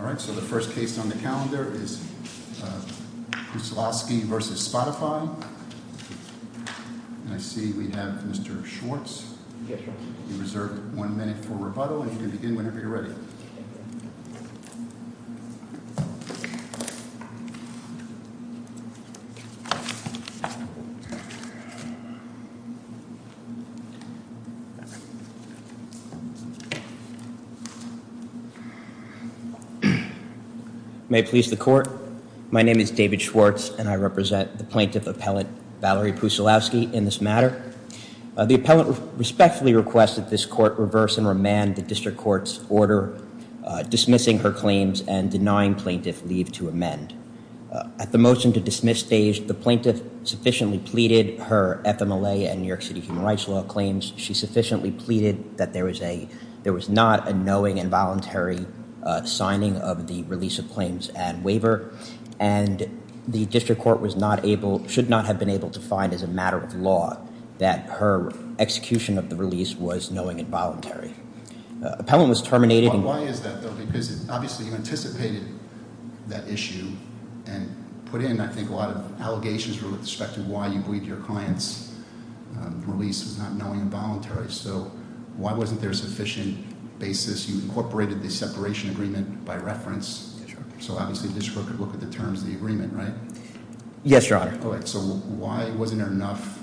Alright, so the first case on the calendar is Pucilowski v. Spotify. And I see we have Mr. Schwartz. You're reserved one minute for rebuttal, and you can begin whenever you're ready. May it please the court. My name is David Schwartz, and I represent the plaintiff appellant Valerie Pucilowski in this matter. The appellant respectfully requests that this court reverse and remand the district court's order dismissing her claims and denying plaintiff leave to amend. At the motion to dismiss stage, the plaintiff sufficiently pleaded her FMLA and New York City Human Rights Law claims. She sufficiently pleaded that there was not a knowing and voluntary signing of the release of claims and waiver. And the district court was not able, should not have been able to find as a matter of law that her execution of the release was knowing and voluntary. Appellant was terminated. Why is that though? Because obviously you anticipated that issue and put in, I think, a lot of allegations with respect to why you believe your client's release was not knowing and voluntary. So why wasn't there a sufficient basis? You incorporated the separation agreement by reference. So obviously the district could look at the terms of the agreement, right? Yes, your honor. So why wasn't there enough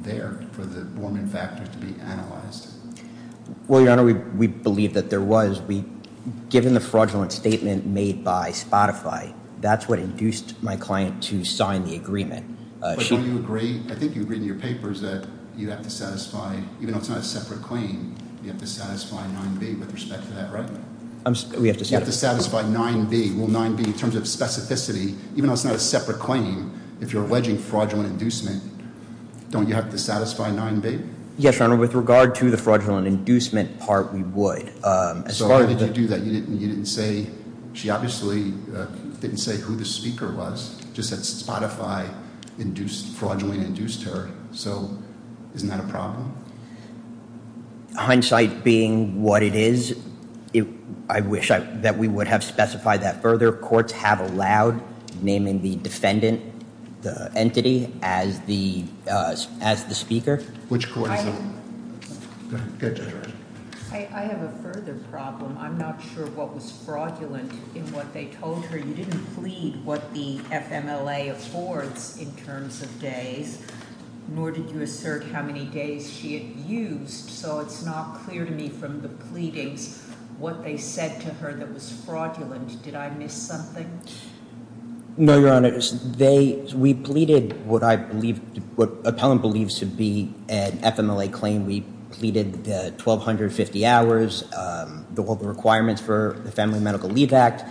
there for the Borman factor to be analyzed? Well, your honor, we believe that there was. Given the fraudulent statement made by Spotify, that's what induced my client to sign the agreement. But don't you agree, I think you agreed in your papers that you have to satisfy, even though it's not a separate claim, you have to satisfy 9B with respect to that, right? We have to satisfy 9B. Will 9B, in terms of specificity, even though it's not a separate claim, if you're alleging fraudulent inducement, don't you have to satisfy 9B? Yes, your honor. With regard to the fraudulent inducement part, we would. So why did you do that? You didn't say, she obviously didn't say who the speaker was, just that Spotify induced, fraudulently induced her. So isn't that a problem? Hindsight being what it is, I wish that we would have specified that further. Courts have allowed naming the defendant, the entity, as the speaker. Which court is it? I have a further problem. I'm not sure what was fraudulent in what they told her. You didn't plead what the FMLA affords in terms of days, nor did you assert how many days she had used. So it's not clear to me from the pleadings what they said to her that was fraudulent. Did I miss something? No, your honor. We pleaded what I believe, what appellant believes to be an FMLA claim. We pleaded the 1,250 hours, the requirements for the Family Medical Leave Act.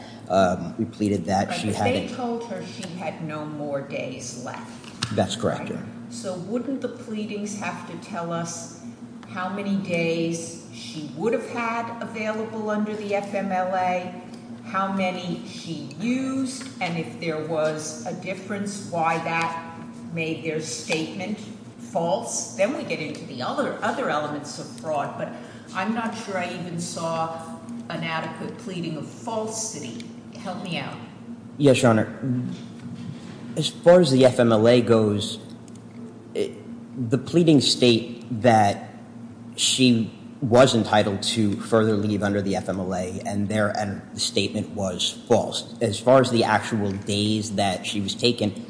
We pleaded that she hadn't... They told her she had no more days left. That's correct, your honor. So wouldn't the pleadings have to tell us how many days she would have had available under the FMLA? How many she used? And if there was a difference, why that made their statement false? Then we get into the other elements of fraud. I'm not sure I even saw an adequate pleading of falsity. Help me out. Yes, your honor. As far as the FMLA goes, the pleadings state that she was entitled to further leave under the FMLA and the statement was false. As far as the actual days that she was taken,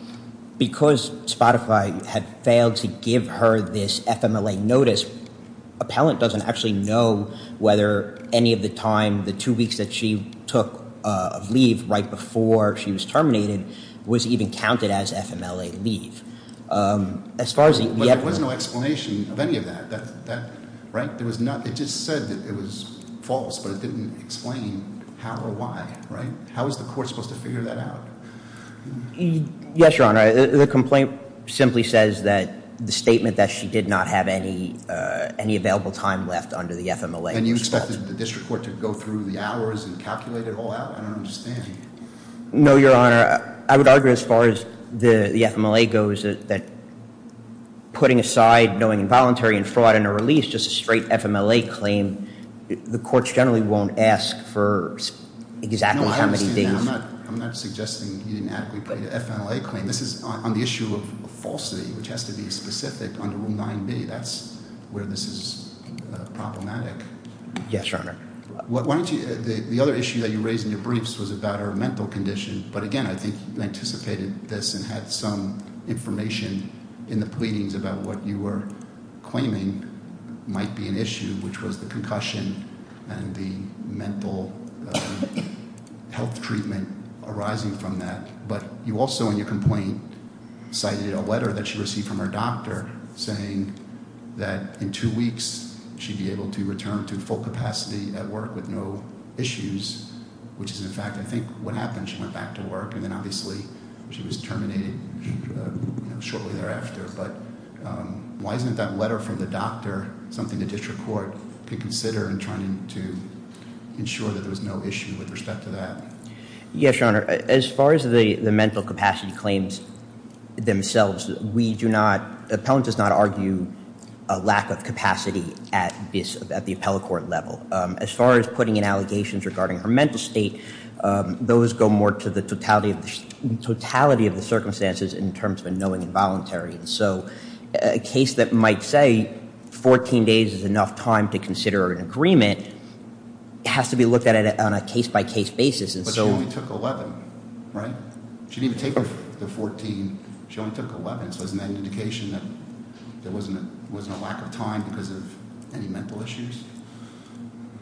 because Spotify had failed to give her this FMLA notice, appellant doesn't actually know whether any of the time, the two weeks that she took leave right before she was terminated, was even counted as FMLA leave. As far as... But there was no explanation of any of that, right? There was not... It just said that it was false, but it didn't explain how or why, right? How is the court supposed to figure that out? Yes, your honor. The complaint simply says that the statement that she did not have any available time left under the FMLA... And you expected the district court to go through the hours and calculate it all out? I don't understand. No, your honor. I would argue as far as the FMLA goes, that putting aside knowing involuntary and fraud in a release, just a straight FMLA claim, the courts generally won't ask for exactly how many days... I'm not suggesting you didn't adequately plead an FMLA claim. On the issue of falsity, which has to be specific under Rule 9b, that's where this is problematic. Yes, your honor. The other issue that you raised in your briefs was about her mental condition. But again, I think you anticipated this and had some information in the pleadings about what you were claiming might be an issue, which was the concussion and the mental health treatment arising from that. But you also, in your complaint, cited a letter that she received from her doctor saying that in two weeks, she'd be able to return to full capacity at work with no issues, which is, in fact, I think what happened. She went back to work and then obviously she was terminated shortly thereafter. But why isn't that letter from the doctor something the district court could consider in trying to ensure that there was no issue with respect to that? Yes, your honor. As far as the mental capacity claims themselves, the appellant does not argue a lack of capacity at the appellate court level. As far as putting in allegations regarding her mental state, those go more to the totality of the circumstances in terms of knowing involuntary. So a case that might say 14 days is enough time to consider an agreement has to be looked at on a case-by-case basis. But she only took 11, right? She didn't even take the 14. She only took 11. So isn't that an indication that there wasn't a lack of time because of any mental issues?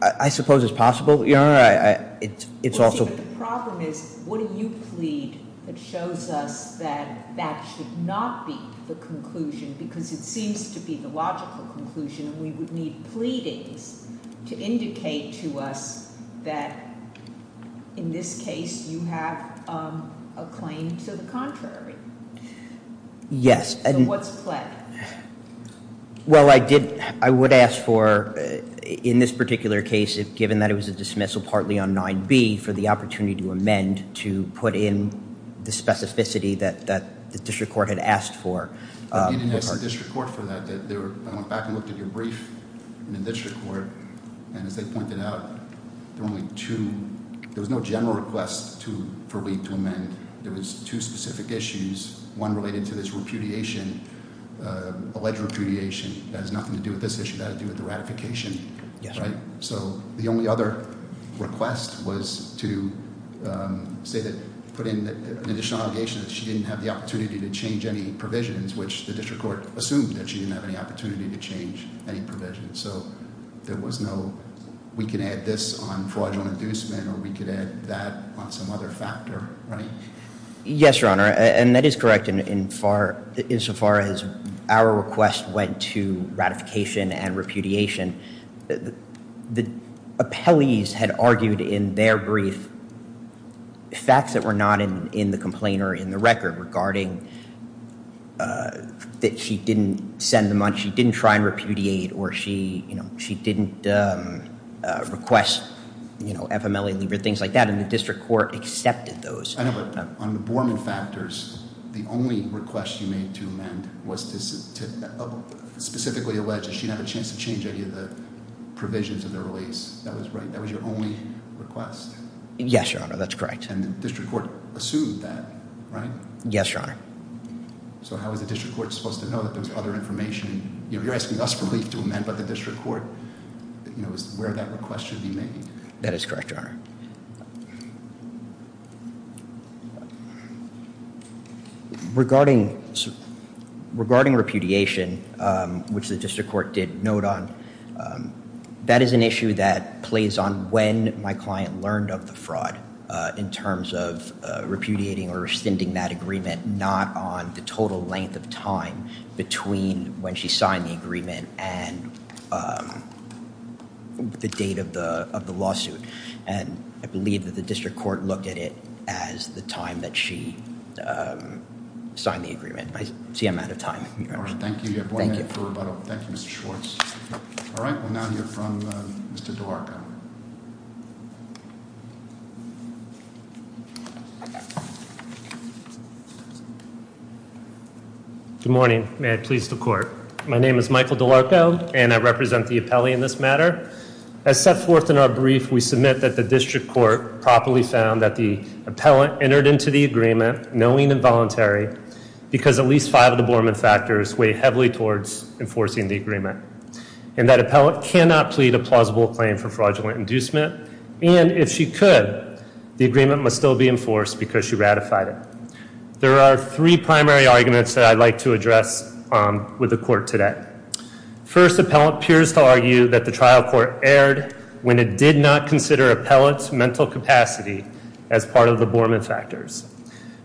I suppose it's possible, your honor. It's also- But the problem is, what do you plead that shows us that that should not be the conclusion? Because it seems to be the logical conclusion. We would need pleadings to indicate to us that, in this case, you have a claim to the contrary. Yes. So what's pleading? Well, I would ask for, in this particular case, given that it was a dismissal partly on 9b, for the opportunity to amend to put in the specificity that the district court had asked for. You didn't ask the district court for that. I went back and looked at your brief in the district court. And as they pointed out, there were only two. There was no general request for Lee to amend. There was two specific issues. One related to this repudiation, alleged repudiation. That has nothing to do with this issue. That had to do with the ratification, right? So the only other request was to say that, put in an additional allegation that she didn't have the opportunity to change any provisions, which the district court assumed that she didn't have any opportunity to change any provisions. So there was no, we can add this on fraudulent inducement, or we could add that on some other factor, right? Yes, your honor. And that is correct insofar as our request went to ratification and repudiation. The appellees had argued in their brief facts that were not in the complaint or in the record regarding that she didn't send them on. She didn't try and repudiate or she didn't request FMLA leave or things like that. And the district court accepted those. I know, but on the Borman factors, the only request you made to amend was to specifically allege that she didn't have a chance to change any of the provisions of the release. That was right? That was your only request? Yes, your honor. And the district court assumed that, right? Yes, your honor. So how is the district court supposed to know that there's other information? You know, you're asking us for relief to amend, but the district court, you know, is where that request should be made. That is correct, your honor. Regarding repudiation, which the district court did note on, that is an issue that plays on when my client learned of the fraud in terms of repudiating or rescinding that agreement, not on the total length of time between when she signed the agreement and the date of the lawsuit. And I believe that the district court looked at it as the time that she signed the agreement. I see I'm out of time. All right, thank you. You have one minute for rebuttal. Thank you, Mr. Schwartz. All right, we'll now hear from Mr. DeLarga. Okay. Good morning. May I please the court? My name is Michael DeLarga and I represent the appellee in this matter. As set forth in our brief, we submit that the district court properly found that the appellant entered into the agreement knowing involuntary because at least five of the Borman factors weigh heavily towards enforcing the agreement. And that appellant cannot plead a plausible claim for fraudulent inducement. And if she could, the agreement must still be enforced because she ratified it. There are three primary arguments that I'd like to address with the court today. First, appellant appears to argue that the trial court erred when it did not consider appellant's mental capacity as part of the Borman factors.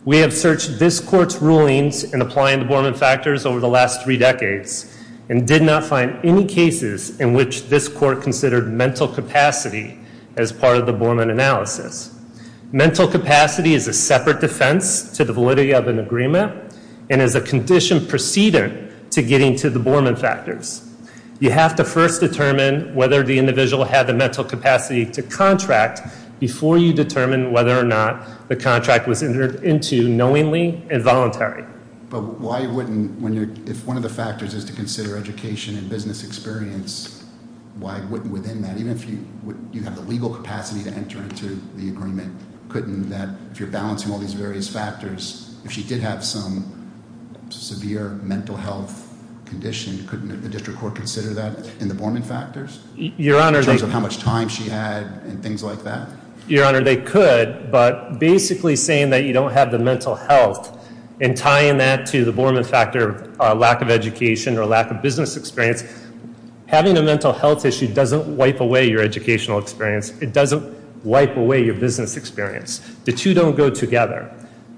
We have searched this court's rulings in applying the Borman factors over the last three decades and did not find any cases in which this court considered mental capacity as part of the Borman analysis. Mental capacity is a separate defense to the validity of an agreement and is a condition preceding to getting to the Borman factors. You have to first determine whether the individual had the mental capacity to contract before you determine whether or not the contract was entered into knowingly involuntary. But why wouldn't, if one of the factors is to consider education and business experience, why wouldn't within that, even if you have the legal capacity to enter into the agreement, couldn't that, if you're balancing all these various factors, if she did have some severe mental health condition, couldn't the district court consider that in the Borman factors? In terms of how much time she had and things like that? Your Honor, they could. But basically saying that you don't have the mental health and tying that to the Borman factor of lack of education or lack of business experience, having a mental health issue doesn't wipe away your educational experience. It doesn't wipe away your business experience. The two don't go together.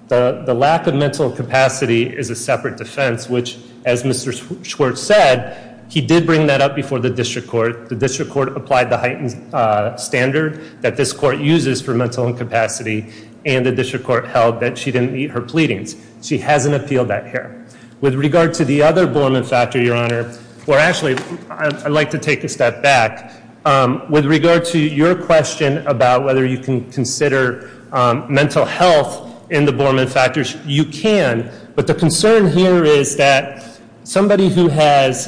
The lack of mental capacity is a separate defense, which as Mr. Schwartz said, he did bring that up before the district court. The district court applied the heightened standard that this court uses for mental incapacity and the district court held that she didn't meet her pleadings. She hasn't appealed that here. With regard to the other Borman factor, Your Honor, actually, I'd like to take a step back. With regard to your question about whether you can consider mental health in the Borman factors, you can. But the concern here is that somebody who has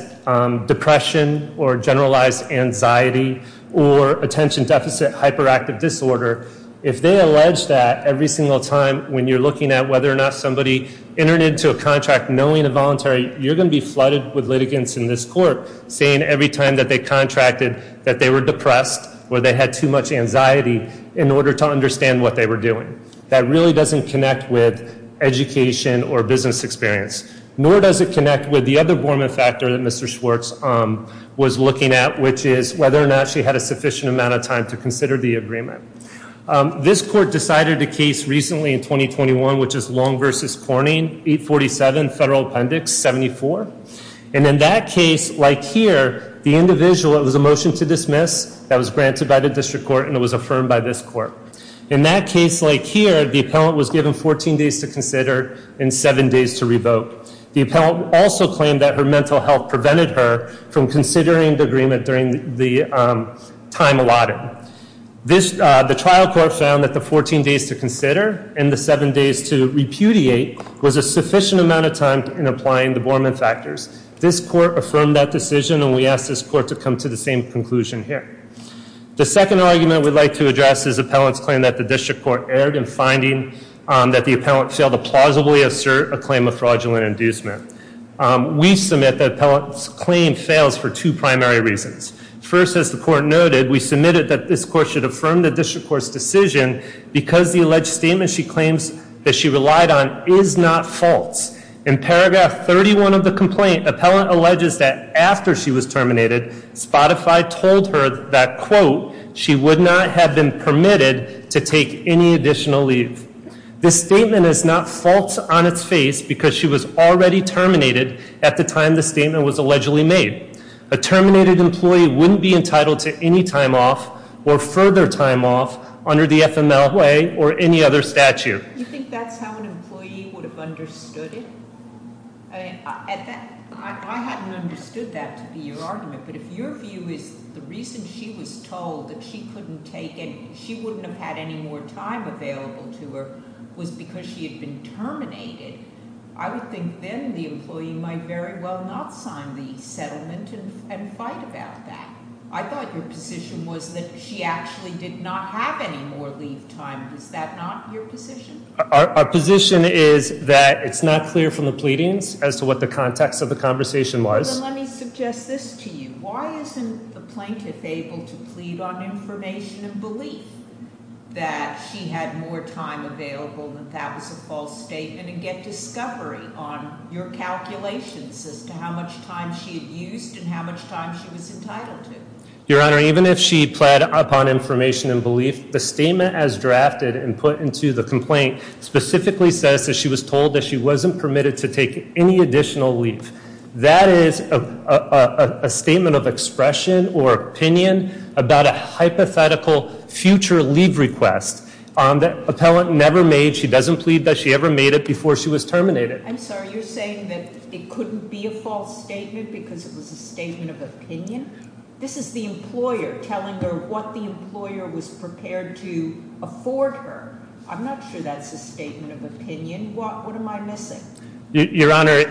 depression or generalized anxiety or attention deficit hyperactive disorder, if they allege that every single time when you're looking at whether or not somebody entered into a contract knowing a voluntary, you're going to be flooded with litigants in this court saying every time that they contracted that they were depressed or they had too much anxiety in order to understand what they were doing. That really doesn't connect with education or business experience, nor does it connect with the other Borman factor that Mr. Schwartz was looking at, which is whether or not she had a sufficient amount of time to consider the agreement. This court decided a case recently in 2021, which is Long versus Corning, 847 Federal Appendix 74. And in that case, like here, the individual, it was a motion to dismiss. That was granted by the district court, and it was affirmed by this court. In that case, like here, the appellant was given 14 days to consider and seven days to revote. The appellant also claimed that her mental health prevented her from considering the agreement during the time allotted. The trial court found that the 14 days to consider and the seven days to repudiate was a sufficient amount of time in applying the Borman factors. This court affirmed that decision, and we ask this court to come to the same conclusion here. The second argument we'd like to address is appellant's claim that the district court erred in finding that the appellant failed to plausibly assert a claim of fraudulent inducement. We submit that appellant's claim fails for two primary reasons. First, as the court noted, we submitted that this court should affirm the district court's decision because the alleged statement she claims that she relied on is not false. In paragraph 31 of the complaint, appellant alleges that after she was terminated, Spotify told her that, quote, she would not have been permitted to take any additional leave. This statement is not false on its face because she was already terminated at the time the statement was allegedly made. A terminated employee wouldn't be entitled to any time off or further time off under the FML way or any other statute. Do you think that's how an employee would have understood it? I hadn't understood that to be your argument, but if your view is the reason she was told that she couldn't take it, she wouldn't have had any more time available to her, was because she had been terminated. I would think then the employee might very well not sign the settlement and fight about that. I thought your position was that she actually did not have any more leave time. Is that not your position? Our position is that it's not clear from the pleadings as to what the context of the conversation was. Let me suggest this to you. Why isn't the plaintiff able to plead on information and believe that she had more time available and that was a false statement and get discovery on your calculations as to how much time she had used and how much time she was entitled to? Your Honor, even if she pled upon information and belief, the statement as drafted and put into the complaint specifically says that she was told that she wasn't permitted to take any additional leave. That is a statement of expression or opinion about a hypothetical future leave request on the appellant never made. She doesn't plead that she ever made it before she was terminated. You're saying that it couldn't be a false statement because it was a statement of opinion? This is the employer telling her what the employer was prepared to afford her. I'm not sure that's a statement of opinion. What am I missing? Your Honor,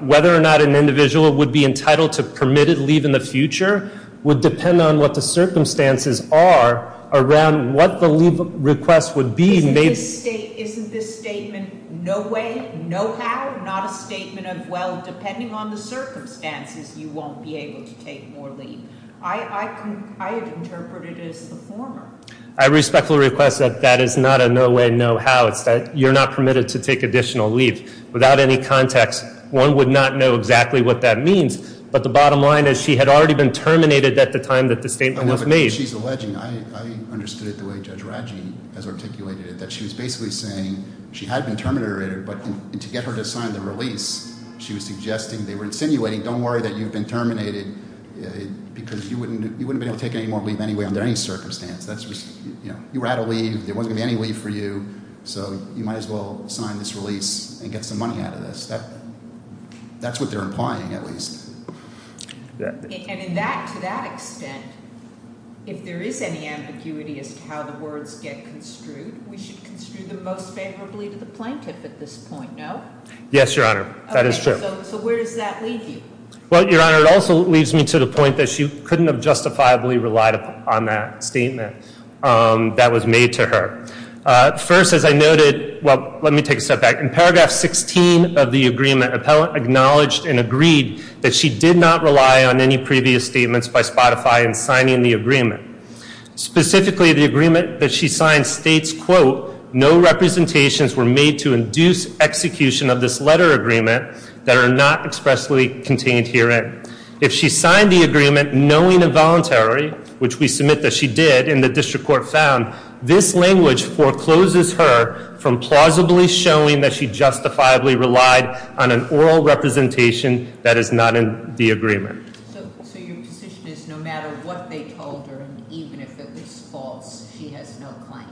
whether or not an individual would be entitled to permitted leave in the future would depend on what the circumstances are around what the leave request would be. Isn't this statement no way, no how, not a statement of well, depending on the circumstances, you won't be able to take more leave? I have interpreted it as the former. I respectfully request that that is not a no way, no how. It's that you're not permitted to take additional leave. Without any context, one would not know exactly what that means. But the bottom line is she had already been terminated at the time that the statement was made. I understood it the way Judge Radji has articulated it, that she was basically saying she had been terminated but to get her to sign the release, she was suggesting, they were insinuating, don't worry that you've been terminated because you wouldn't be able to take any more leave anyway under any circumstance. You were out of leave, there wasn't going to be any leave for you, so you might as well sign this release and get some money out of this. That's what they're implying at least. And to that extent, if there is any ambiguity as to how the words get construed, we should construe them most favorably to the plaintiff at this point, no? Yes, Your Honor. That is true. So where does that leave you? Well, Your Honor, it also leaves me to the point that she couldn't have justifiably relied on that statement that was made to her. First, as I noted, well, let me take a step back. In paragraph 16 of the agreement, appellant acknowledged and agreed that she did not rely on any previous statements by Spotify in signing the agreement. Specifically, the agreement that she signed states, quote, no representations were made to induce execution of this letter agreement that are not expressly contained herein. If she signed the agreement knowing involuntary, which we submit that she did and the district court found, this language forecloses her from plausibly showing that she justifiably relied on an oral representation that is not in the agreement. So your position is no matter what they told her, even if it was false, she has no claim?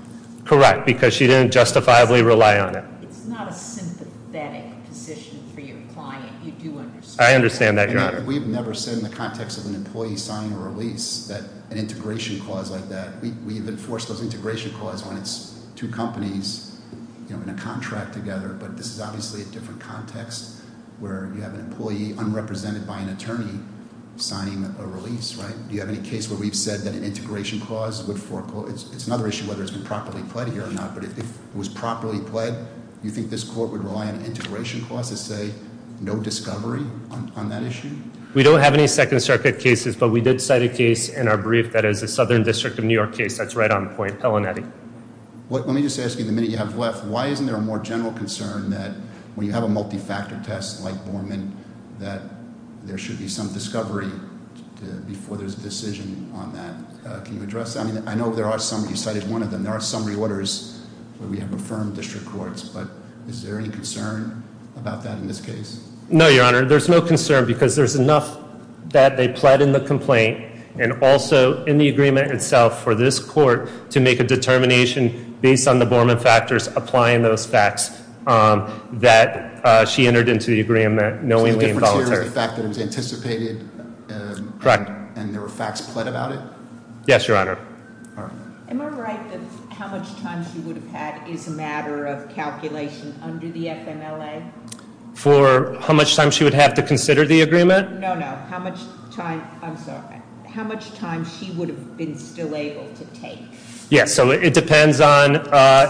Correct, because she didn't justifiably rely on it. It's not a sympathetic position for your client, you do understand. I understand that, Your Honor. We've never said in the context of an employee signing a release that an integration clause like that. We've enforced those integration clause when it's two companies in a contract together, but this is obviously a different context where you have an employee, unrepresented by an attorney, signing a release, right? Do you have any case where we've said that an integration clause would foreclose? It's another issue whether it's been properly pled here or not, but if it was properly pled, you think this court would rely on an integration clause to say no discovery on that issue? We don't have any Second Circuit cases, but we did cite a case in our brief that is a Southern District of New York case. That's right on point. Helen, Eddie. Let me just ask you, the minute you have left, why isn't there a more general concern that when you have a multi-factor test like Borman, that there should be some discovery before there's a decision on that? Can you address that? I know there are some, you cited one of them. And there are some reorders where we have affirmed district courts, but is there any concern about that in this case? No, your honor, there's no concern because there's enough that they pled in the complaint and also in the agreement itself for this court to make a determination based on the Borman factors applying those facts that she entered into the agreement knowingly and voluntarily. The fact that it was anticipated and there were facts pled about it? Yes, your honor. Am I right that how much time she would have had is a matter of calculation under the FMLA? For how much time she would have to consider the agreement? No, no, how much time, I'm sorry, how much time she would have been still able to take? Yes, so it depends on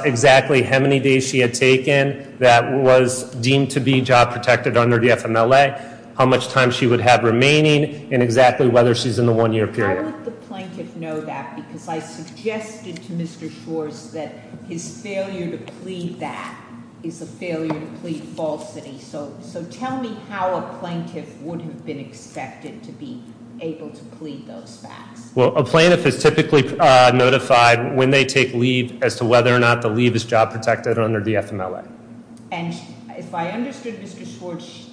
exactly how many days she had taken that was deemed to be job protected under the FMLA, how much time she would have remaining, and exactly whether she's in the one year period. Why would the plaintiff know that, because I suggested to Mr. Schwartz that his failure to plead that is a failure to plead falsity. So tell me how a plaintiff would have been expected to be able to plead those facts. Well, a plaintiff is typically notified when they take leave as to whether or not the leave is job protected under the FMLA. And if I understood Mr. Schwartz,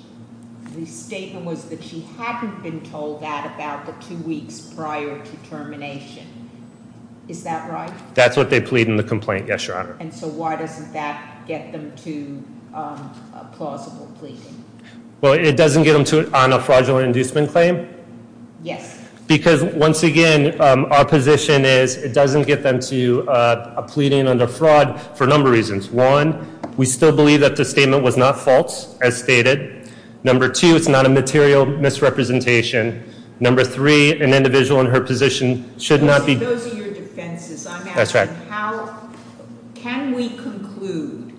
the statement was that she hadn't been told that about the two weeks prior to termination, is that right? That's what they plead in the complaint, yes, your honor. And so why doesn't that get them to a plausible pleading? Well, it doesn't get them to it on a fraudulent inducement claim? Yes. Because once again, our position is it doesn't get them to a pleading under fraud for a number of reasons. One, we still believe that the statement was not false, as stated. Number two, it's not a material misrepresentation. Number three, an individual in her position should not be- Those are your defenses. I'm asking how, can we conclude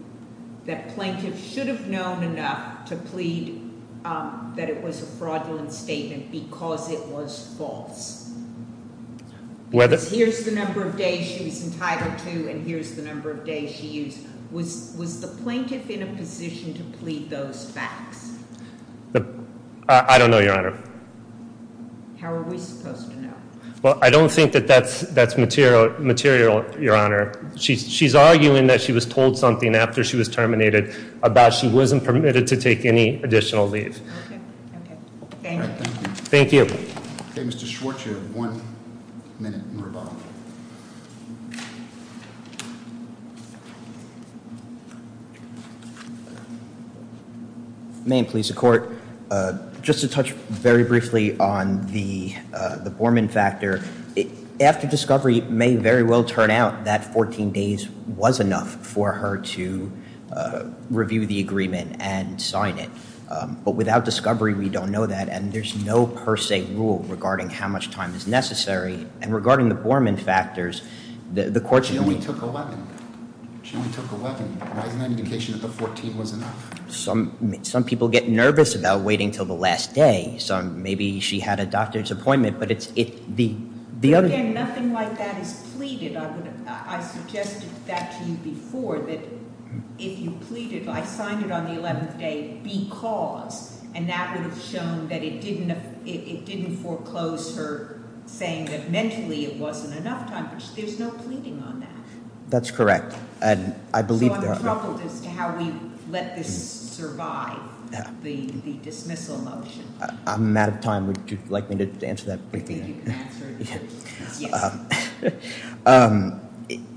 that plaintiff should have known enough to plead that it was a fraudulent statement because it was false? Because here's the number of days she was entitled to, and here's the number of days she used. Was the plaintiff in a position to plead those facts? I don't know, your honor. How are we supposed to know? Well, I don't think that that's material, your honor. She's arguing that she was told something after she was terminated about she wasn't permitted to take any additional leave. Okay, okay, thank you. Thank you. Okay, Mr. Schwartz, you have one minute in rebuttal. May it please the court. Just to touch very briefly on the Borman factor. After discovery, it may very well turn out that 14 days was enough for her to review the agreement and sign it. But without discovery, we don't know that, and there's no per se rule regarding how much time is necessary. And regarding the Borman factors, the court- She only took 11, she only took 11, why is that an indication that the 14 was enough? Some people get nervous about waiting until the last day, so maybe she had a doctor's appointment, but it's the other- Again, nothing like that is pleaded. I suggested that to you before, that if you pleaded, I signed it on the 11th day because, and that would have shown that it didn't foreclose her saying that mentally it wasn't enough time. There's no pleading on that. That's correct, and I believe that- So I'm troubled as to how we let this survive, the dismissal motion. I'm out of time, would you like me to answer that briefly? Maybe you can answer it, yes.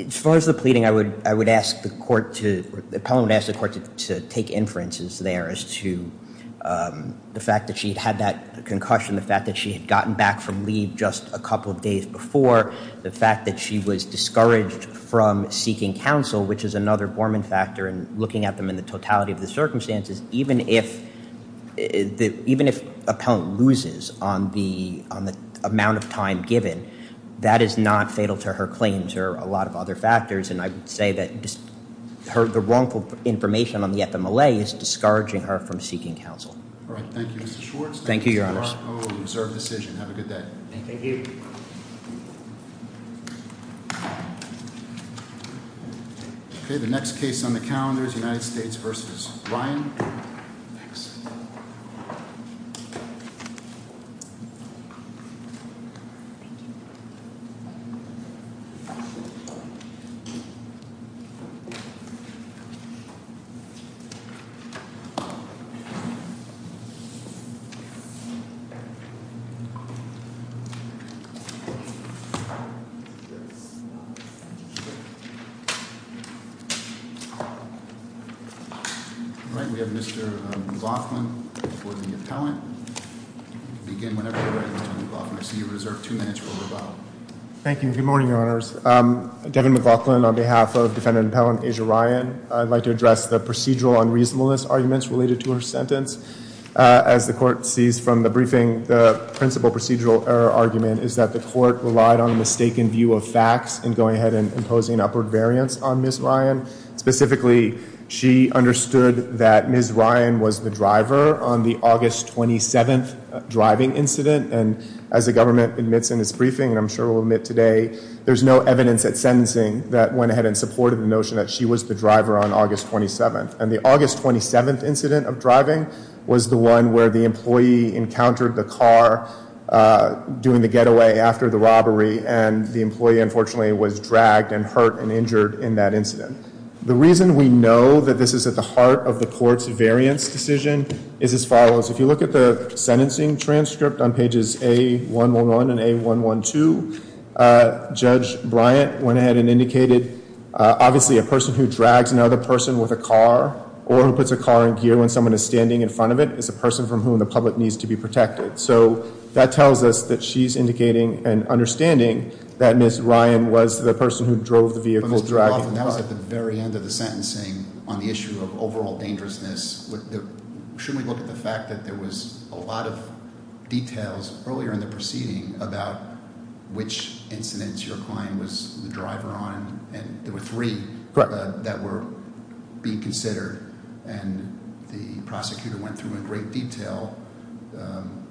As far as the pleading, I would ask the court to, the appellant would ask the court to take inferences there as to the fact that she had that concussion, the fact that she had gotten back from leave just a couple of days before, the fact that she was discouraged from seeking counsel, which is another Borman factor. And looking at them in the totality of the circumstances, even if appellant loses on the amount of time given, that is not fatal to her claims or a lot of other factors. And I would say that the wrongful information on the FMLA is discouraging her from seeking counsel. All right, thank you Mr. Schwartz. Thank you, your honors. Thank you Mr. Arco, observed decision. Have a good day. Thank you. Okay, the next case on the calendar is United States versus Ryan. All right, we have Mr. McLaughlin for the appellant. Begin whenever you're ready, Mr. McLaughlin. I see you reserved two minutes for rebuttal. Thank you, good morning, your honors. Devin McLaughlin on behalf of defendant appellant Asia Ryan. I'd like to address the procedural unreasonableness arguments related to her sentence. As the court sees from the briefing, the principal procedural error argument is that the court relied on a mistaken view of facts and going ahead and imposing upward variance on Ms. Ryan. Specifically, she understood that Ms. Ryan was the driver on the August 27th driving incident. And as the government admits in its briefing, and I'm sure will admit today, there's no evidence at sentencing that went ahead and supported the notion that she was the driver on August 27th. And the August 27th incident of driving was the one where the employee encountered the car doing the getaway after the robbery and the employee unfortunately was dragged and hurt and injured in that incident. The reason we know that this is at the heart of the court's variance decision is as follows. If you look at the sentencing transcript on pages A111 and A112, Judge Bryant went ahead and indicated, obviously a person who drags another person with a car, or who puts a car in gear when someone is standing in front of it, is a person from whom the public needs to be protected. So that tells us that she's indicating an understanding that Ms. Ryan was the person who drove the vehicle dragging the car. That was at the very end of the sentencing on the issue of overall dangerousness. Should we look at the fact that there was a lot of details earlier in the proceeding about which incidents your client was the driver on? And there were three that were being considered, and the prosecutor went through in great detail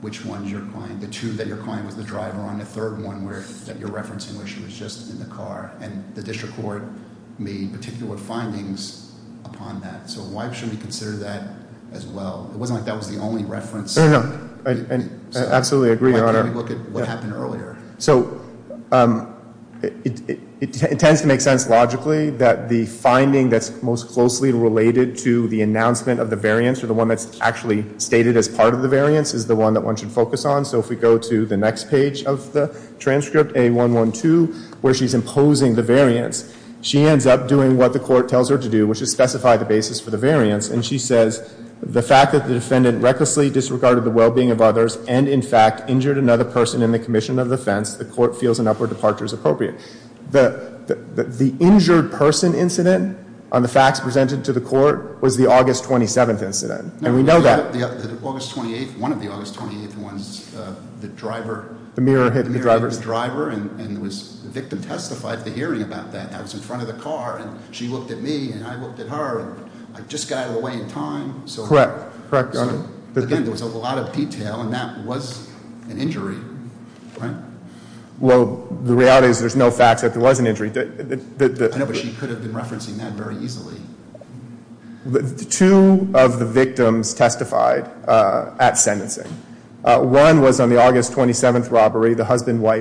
which ones your client, the two that your client was the driver on. And the third one that you're referencing where she was just in the car. And the district court made particular findings upon that. So why should we consider that as well? It wasn't like that was the only reference. I absolutely agree, Your Honor. Why can't we look at what happened earlier? So it tends to make sense logically that the finding that's most closely related to the announcement of the variance, or the one that's actually stated as part of the variance, is the one that one should focus on. So if we go to the next page of the transcript, A112, where she's imposing the variance, she ends up doing what the court tells her to do, which is specify the basis for the variance. And she says, the fact that the defendant recklessly disregarded the well-being of others and, in fact, injured another person in the commission of defense, the court feels an upward departure is appropriate. The injured person incident on the facts presented to the court was the August 27th incident, and we know that. Yeah, one of the August 28th ones, the driver. The mirror hit the driver. The mirror hit the driver, and the victim testified at the hearing about that. I was in front of the car, and she looked at me, and I looked at her, and I just got out of the way in time, so. Correct, correct, Your Honor. But again, there was a lot of detail, and that was an injury, right? Well, the reality is there's no facts that there was an injury. I know, but she could have been referencing that very easily. Two of the victims testified at sentencing. One was on the August 27th robbery, the husband, wife.